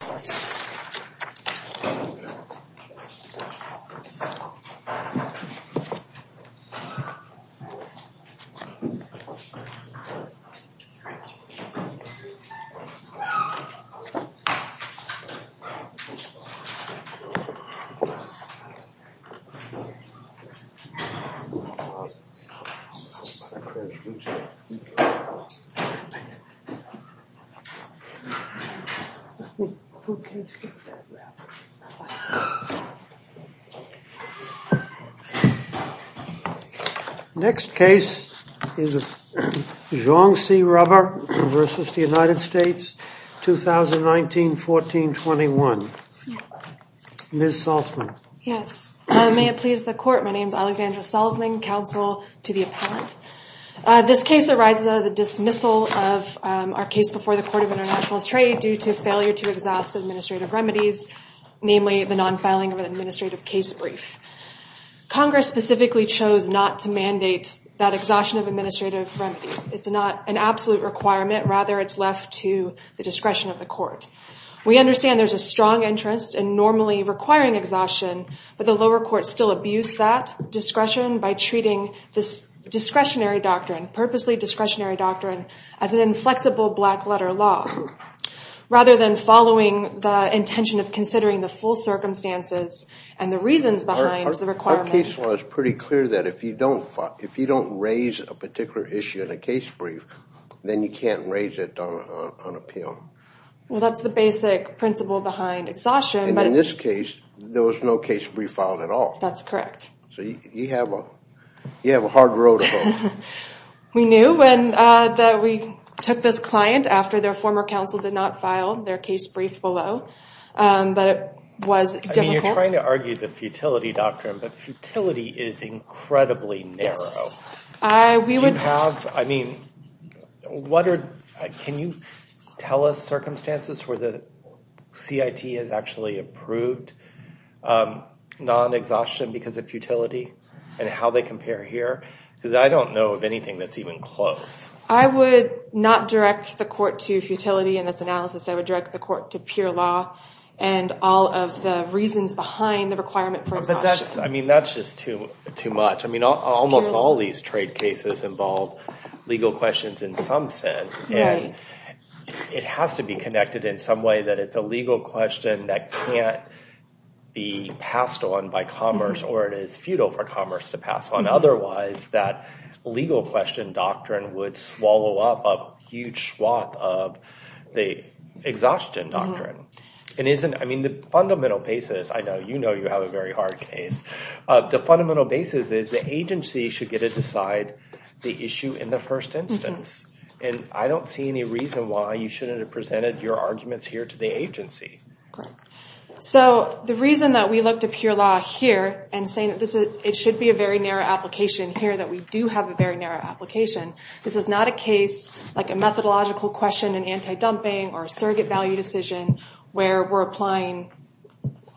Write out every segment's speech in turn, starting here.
I love it. I am so stupid! Who can skip that rap? Next case is Zhang C. Rubber v. The United States, 2019-14-21. Ms. Salzman. Yes. May it please the court, my name is Alexandra Salzman, counsel to the appellant. This case arises out of the dismissal of our case before the Court of International Trade due to failure to exhaust administrative remedies, namely the non-filing of an administrative case brief. Congress specifically chose not to mandate that exhaustion of administrative remedies. It's not an absolute requirement, rather it's left to the discretion of the court. We understand there's a strong interest in normally requiring exhaustion, but the lower courts still abuse that discretion by treating this discretionary doctrine, purposely discretionary doctrine, as an inflexible black-letter law, rather than following the intention of considering the full circumstances and the reasons behind the requirement. Our case law is pretty clear that if you don't raise a particular issue in a case brief, then you can't raise it on appeal. Well, that's the basic principle behind exhaustion, but in this case, there was no case brief filed at all. That's correct. So you have a hard road ahead. We knew that we took this client after their former counsel did not file their case brief below, but it was difficult. I mean, you're trying to argue the futility doctrine, but futility is incredibly narrow. Yes. Can you tell us circumstances where the CIT has actually approved non-exhaustion because of futility, and how they compare here, because I don't know of anything that's even close. I would not direct the court to futility in this analysis, I would direct the court to pure law and all of the reasons behind the requirement for exhaustion. I mean, that's just too much. I mean, almost all these trade cases involve legal questions in some sense, and it has to be connected in some way that it's a legal question that can't be passed on by commerce, or it is futile for commerce to pass on. Otherwise, that legal question doctrine would swallow up a huge swath of the exhaustion doctrine. I mean, the fundamental basis, I know you know you have a very hard case, the fundamental basis is the agency should get to decide the issue in the first instance, and I don't see any reason why you shouldn't have presented your arguments here to the agency. So the reason that we looked at pure law here, and saying that it should be a very narrow application here, that we do have a very narrow application, this is not a case like a methodological question in anti-dumping, or a surrogate value decision, where we're applying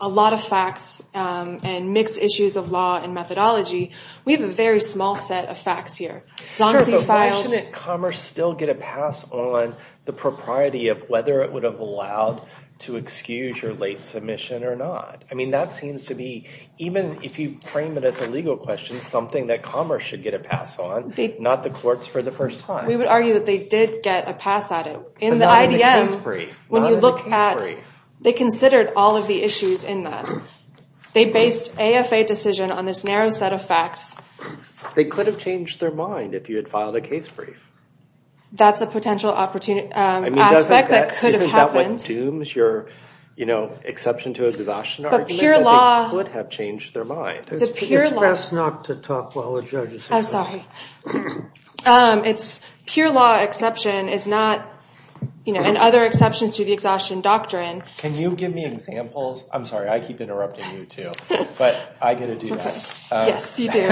a lot of facts and mixed issues of law and methodology, we have a very small set of facts here. Sure, but why shouldn't commerce still get a pass on the propriety of whether it would have allowed to excuse your late submission or not? I mean, that seems to be, even if you frame it as a legal question, something that commerce should get a pass on, not the courts for the first time. We would argue that they did get a pass at it. In the IDM, when you look at, they considered all of the issues in that. They based AFA decision on this narrow set of facts. They could have changed their mind if you had filed a case brief. That's a potential opportunity, aspect that could have happened. Isn't that what dooms your, you know, exception to exhaustion argument, that they could have changed their mind? I'm sorry. It's pure law exception is not, you know, and other exceptions to the exhaustion doctrine. Can you give me examples? I'm sorry. I keep interrupting you too, but I get to do that. Yes, you do.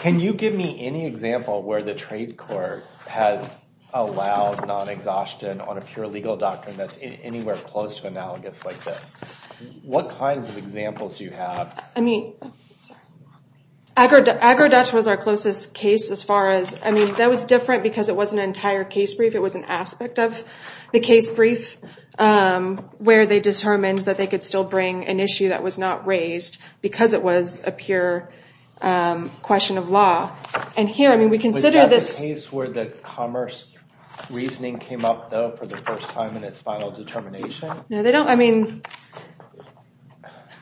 Can you give me any example where the trade court has allowed non-exhaustion on a pure legal doctrine that's anywhere close to analogous like this? What kinds of examples do you have? I mean, AgroDutch was our closest case as far as, I mean, that was different because it wasn't an entire case brief. It was an aspect of the case brief where they determined that they could still bring an issue that was not raised because it was a pure question of law. And here, I mean, we consider this. Was that the case where the commerce reasoning came up, though, for the first time in its final determination? No, they don't. I mean,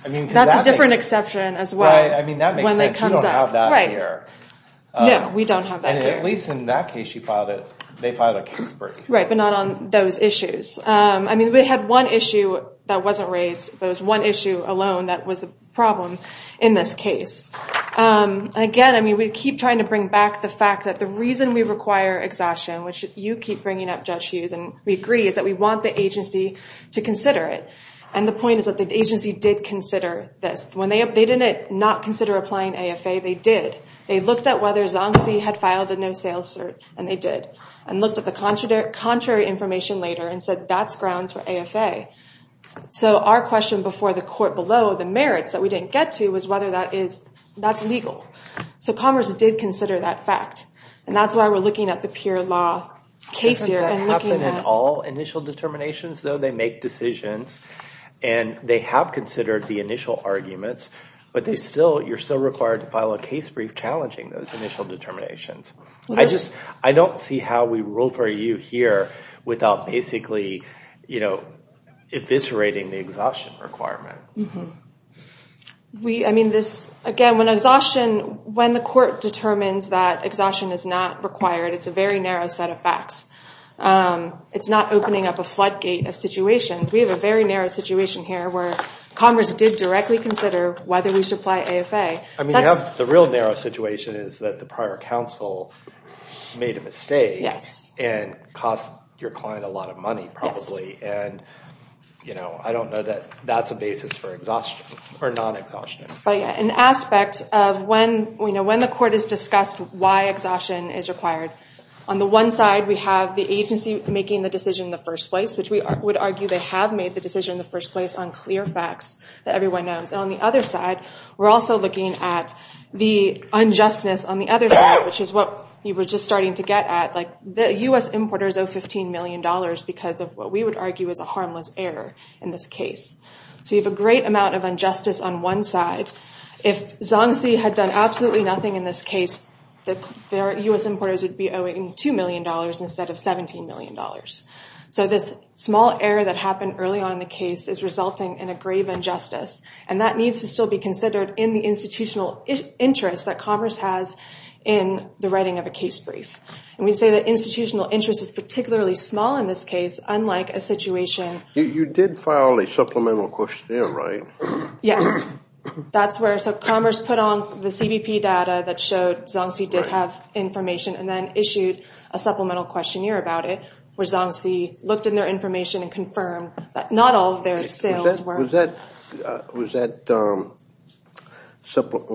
that's a different exception as well when it comes up. Right, I mean, that makes sense. You don't have that here. Right. No, we don't have that here. And at least in that case, you filed it. They filed a case brief. Right, but not on those issues. I mean, we had one issue that wasn't raised, but it was one issue alone that was a problem in this case. And again, I mean, we keep trying to bring back the fact that the reason we require exhaustion, which you keep bringing up, Judge Hughes, and we agree, is that we want the agency to And the point is that the agency did consider this. When they didn't not consider applying AFA, they did. They looked at whether Zongzi had filed a no-sales cert, and they did, and looked at the contrary information later and said, that's grounds for AFA. So our question before the court below, the merits that we didn't get to, was whether that is, that's legal. So commerce did consider that fact, and that's why we're looking at the pure law case here and looking at- Initial determinations, though, they make decisions, and they have considered the initial arguments, but you're still required to file a case brief challenging those initial determinations. I don't see how we rule for you here without basically, you know, eviscerating the exhaustion requirement. I mean, this, again, when exhaustion, when the court determines that exhaustion is not required, it's a very narrow set of facts. It's not opening up a floodgate of situations. We have a very narrow situation here where commerce did directly consider whether we should apply AFA. I mean, the real narrow situation is that the prior counsel made a mistake and cost your client a lot of money, probably, and I don't know that that's a basis for exhaustion or non-exhaustion. But yeah, an aspect of when the court has discussed why exhaustion is required, on the one side, we have the agency making the decision in the first place, which we would argue they have made the decision in the first place on clear facts that everyone knows, and on the other side, we're also looking at the unjustness on the other side, which is what you were just starting to get at, like the U.S. importers owe $15 million because of what we would argue is a harmless error in this case. So you have a great amount of injustice on one side. If Zongzi had done absolutely nothing in this case, the U.S. importers would be owing $2 million instead of $17 million. So this small error that happened early on in the case is resulting in a grave injustice, and that needs to still be considered in the institutional interest that Commerce has in the writing of a case brief. And we'd say that institutional interest is particularly small in this case, unlike a situation... You did file a supplemental question, right? Yes. That's where... So Commerce put on the CBP data that showed Zongzi did have information and then issued a supplemental questionnaire about it, where Zongzi looked in their information and confirmed that not all of their sales were... Was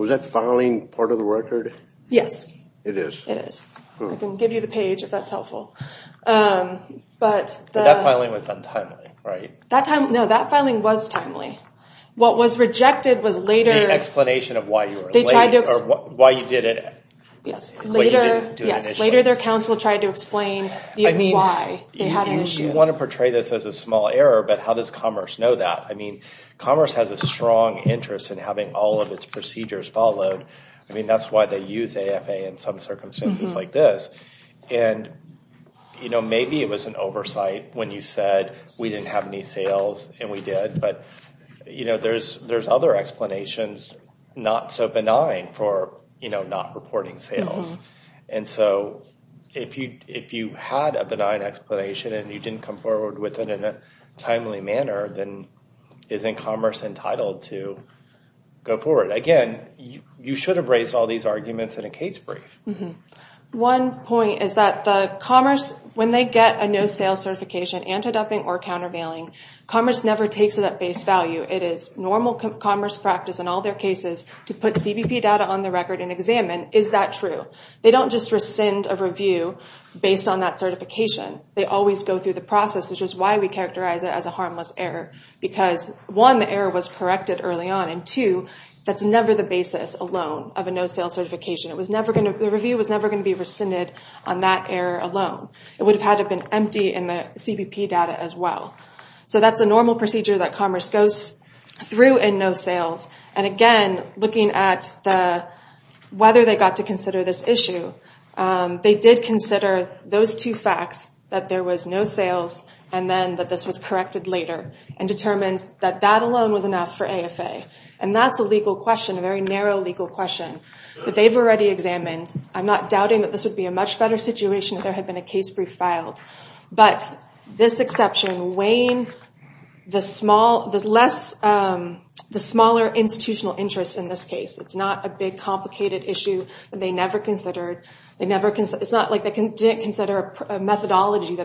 that filing part of the record? Yes. It is? It is. I can give you the page if that's helpful. But the... But that filing was untimely, right? No, that filing was timely. The explanation of why you were late, or why you didn't do it initially. Yes. Yes. Later their counsel tried to explain why they had an issue. You want to portray this as a small error, but how does Commerce know that? I mean, Commerce has a strong interest in having all of its procedures followed. I mean, that's why they use AFA in some circumstances like this. And maybe it was an oversight when you said, we didn't have any sales, and we did, but there's other explanations not so benign for not reporting sales. And so if you had a benign explanation and you didn't come forward with it in a timely manner, then isn't Commerce entitled to go forward? Again, you should have raised all these arguments in a case brief. One point is that the Commerce, when they get a no-sales certification, antidumping or countervailing, Commerce never takes it at face value. It is normal Commerce practice in all their cases to put CBP data on the record and examine, is that true? They don't just rescind a review based on that certification. They always go through the process, which is why we characterize it as a harmless error. Because one, the error was corrected early on, and two, that's never the basis alone of a no-sales certification. The review was never going to be rescinded on that error alone. It would have had to have been empty in the CBP data as well. So that's a normal procedure that Commerce goes through in no-sales. And again, looking at whether they got to consider this issue, they did consider those two facts, that there was no sales and then that this was corrected later, and determined that that alone was enough for AFA. And that's a legal question, a very narrow legal question, that they've already examined. I'm not doubting that this would be a much better situation if there had been a case brief filed. But this exception, weighing the smaller institutional interest in this case, it's not a big complicated issue that they never considered. It's not like they didn't consider a methodology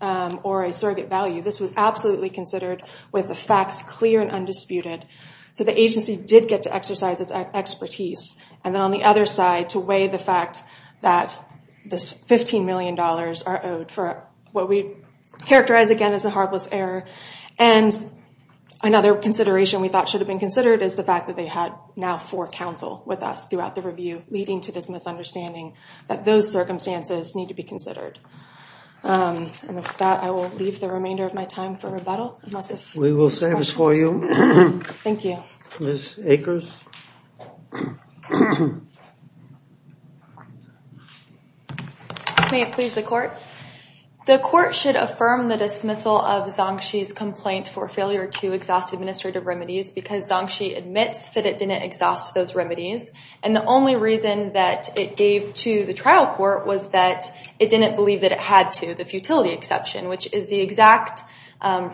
or a surrogate value. This was absolutely considered with the facts clear and undisputed. So the agency did get to exercise its expertise. And then on the other side, to weigh the fact that this $15 million are owed for what we characterize again as a harmless error. And another consideration we thought should have been considered is the fact that they had now four counsel with us throughout the review, leading to this misunderstanding that those circumstances need to be considered. And with that, I will leave the remainder of my time for rebuttal. We will save it for you. Thank you. Ms. Akers? May it please the court? The court should affirm the dismissal of Zongxi's complaint for failure to exhaust administrative remedies because Zongxi admits that it didn't exhaust those remedies. And the only reason that it gave to the trial court was that it didn't believe that it had to, the futility exception, which is the exact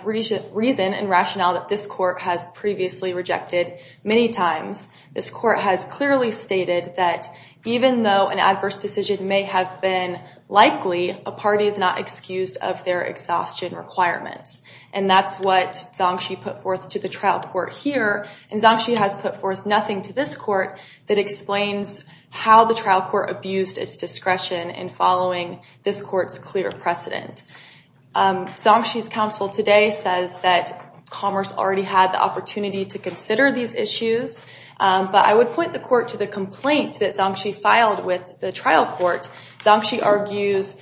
reason and rationale that this court has previously rejected many times. This court has clearly stated that even though an adverse decision may have been likely, a party is not excused of their exhaustion requirements. And that's what Zongxi put forth to the trial court here. And Zongxi has put forth nothing to this court that explains how the trial court abused its discretion in following this court's clear precedent. Zongxi's counsel today says that Commerce already had the opportunity to consider these issues. But I would point the court to the complaint that Zongxi filed with the trial court. Zongxi argues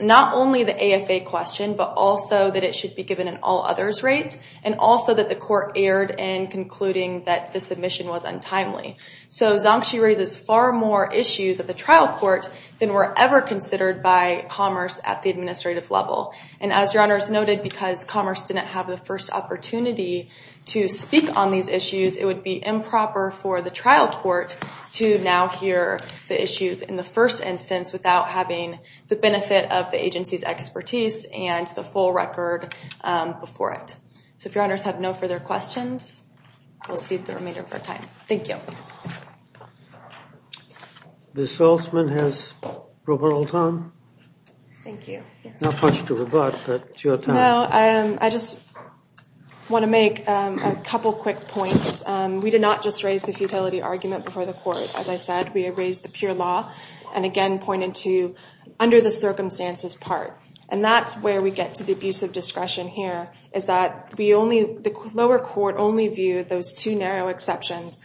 not only the AFA question, but also that it should be given an all others rate and also that the court erred in concluding that the submission was untimely. So Zongxi raises far more issues at the trial court than were ever considered by Commerce at the administrative level. And as your honors noted, because Commerce didn't have the first opportunity to speak on these issues, it would be improper for the trial court to now hear the issues in the first instance without having the benefit of the agency's expertise and the full record before it. So if your honors have no further questions, we'll cede the remainder of our time. Thank you. Ms. Salzman has provable time. Thank you. Not much to rebut, but your time. I just want to make a couple quick points. We did not just raise the futility argument before the court, as I said. We raised the pure law and again pointed to under the circumstances part. And that's where we get to the abuse of discretion here, is that the lower court only viewed those two narrow exceptions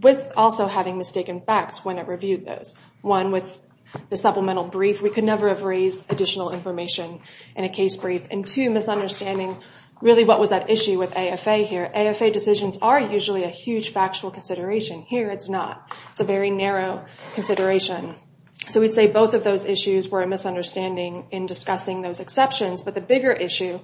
with also having mistaken facts when it reviewed those. One with the supplemental brief, we could never have raised additional information in a case brief. And two, misunderstanding really what was at issue with AFA here. AFA decisions are usually a huge factual consideration. Here it's not. It's a very narrow consideration. So we'd say both of those issues were a misunderstanding in discussing those exceptions, but the bigger issue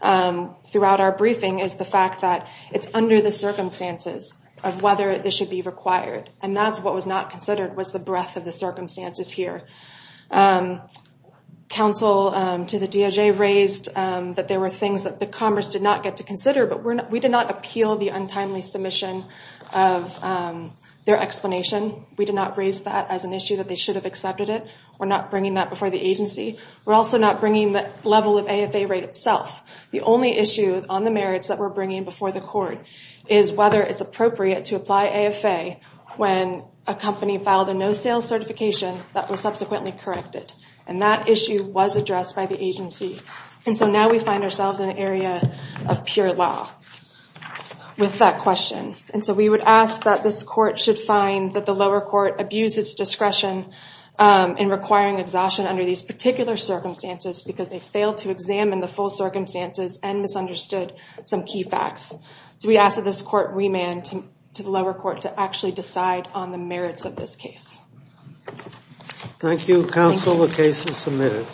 throughout our briefing is the fact that it's under the circumstances of whether this should be required. And that's what was not considered was the breadth of the circumstances here. Counsel to the DOJ raised that there were things that the Congress did not get to consider, but we did not appeal the untimely submission of their explanation. We did not raise that as an issue that they should have accepted it. We're not bringing that before the agency. We're also not bringing the level of AFA rate itself. The only issue on the merits that we're bringing before the court is whether it's appropriate to apply AFA when a company filed a no-sales certification that was subsequently corrected. And that issue was addressed by the agency. And so now we find ourselves in an area of pure law with that question. And so we would ask that this court should find that the lower court abused its discretion in requiring exhaustion under these particular circumstances because they failed to examine the full circumstances and misunderstood some key facts. So we ask that this court remand to the lower court to actually decide on the merits of this case. Thank you, counsel. The case is submitted.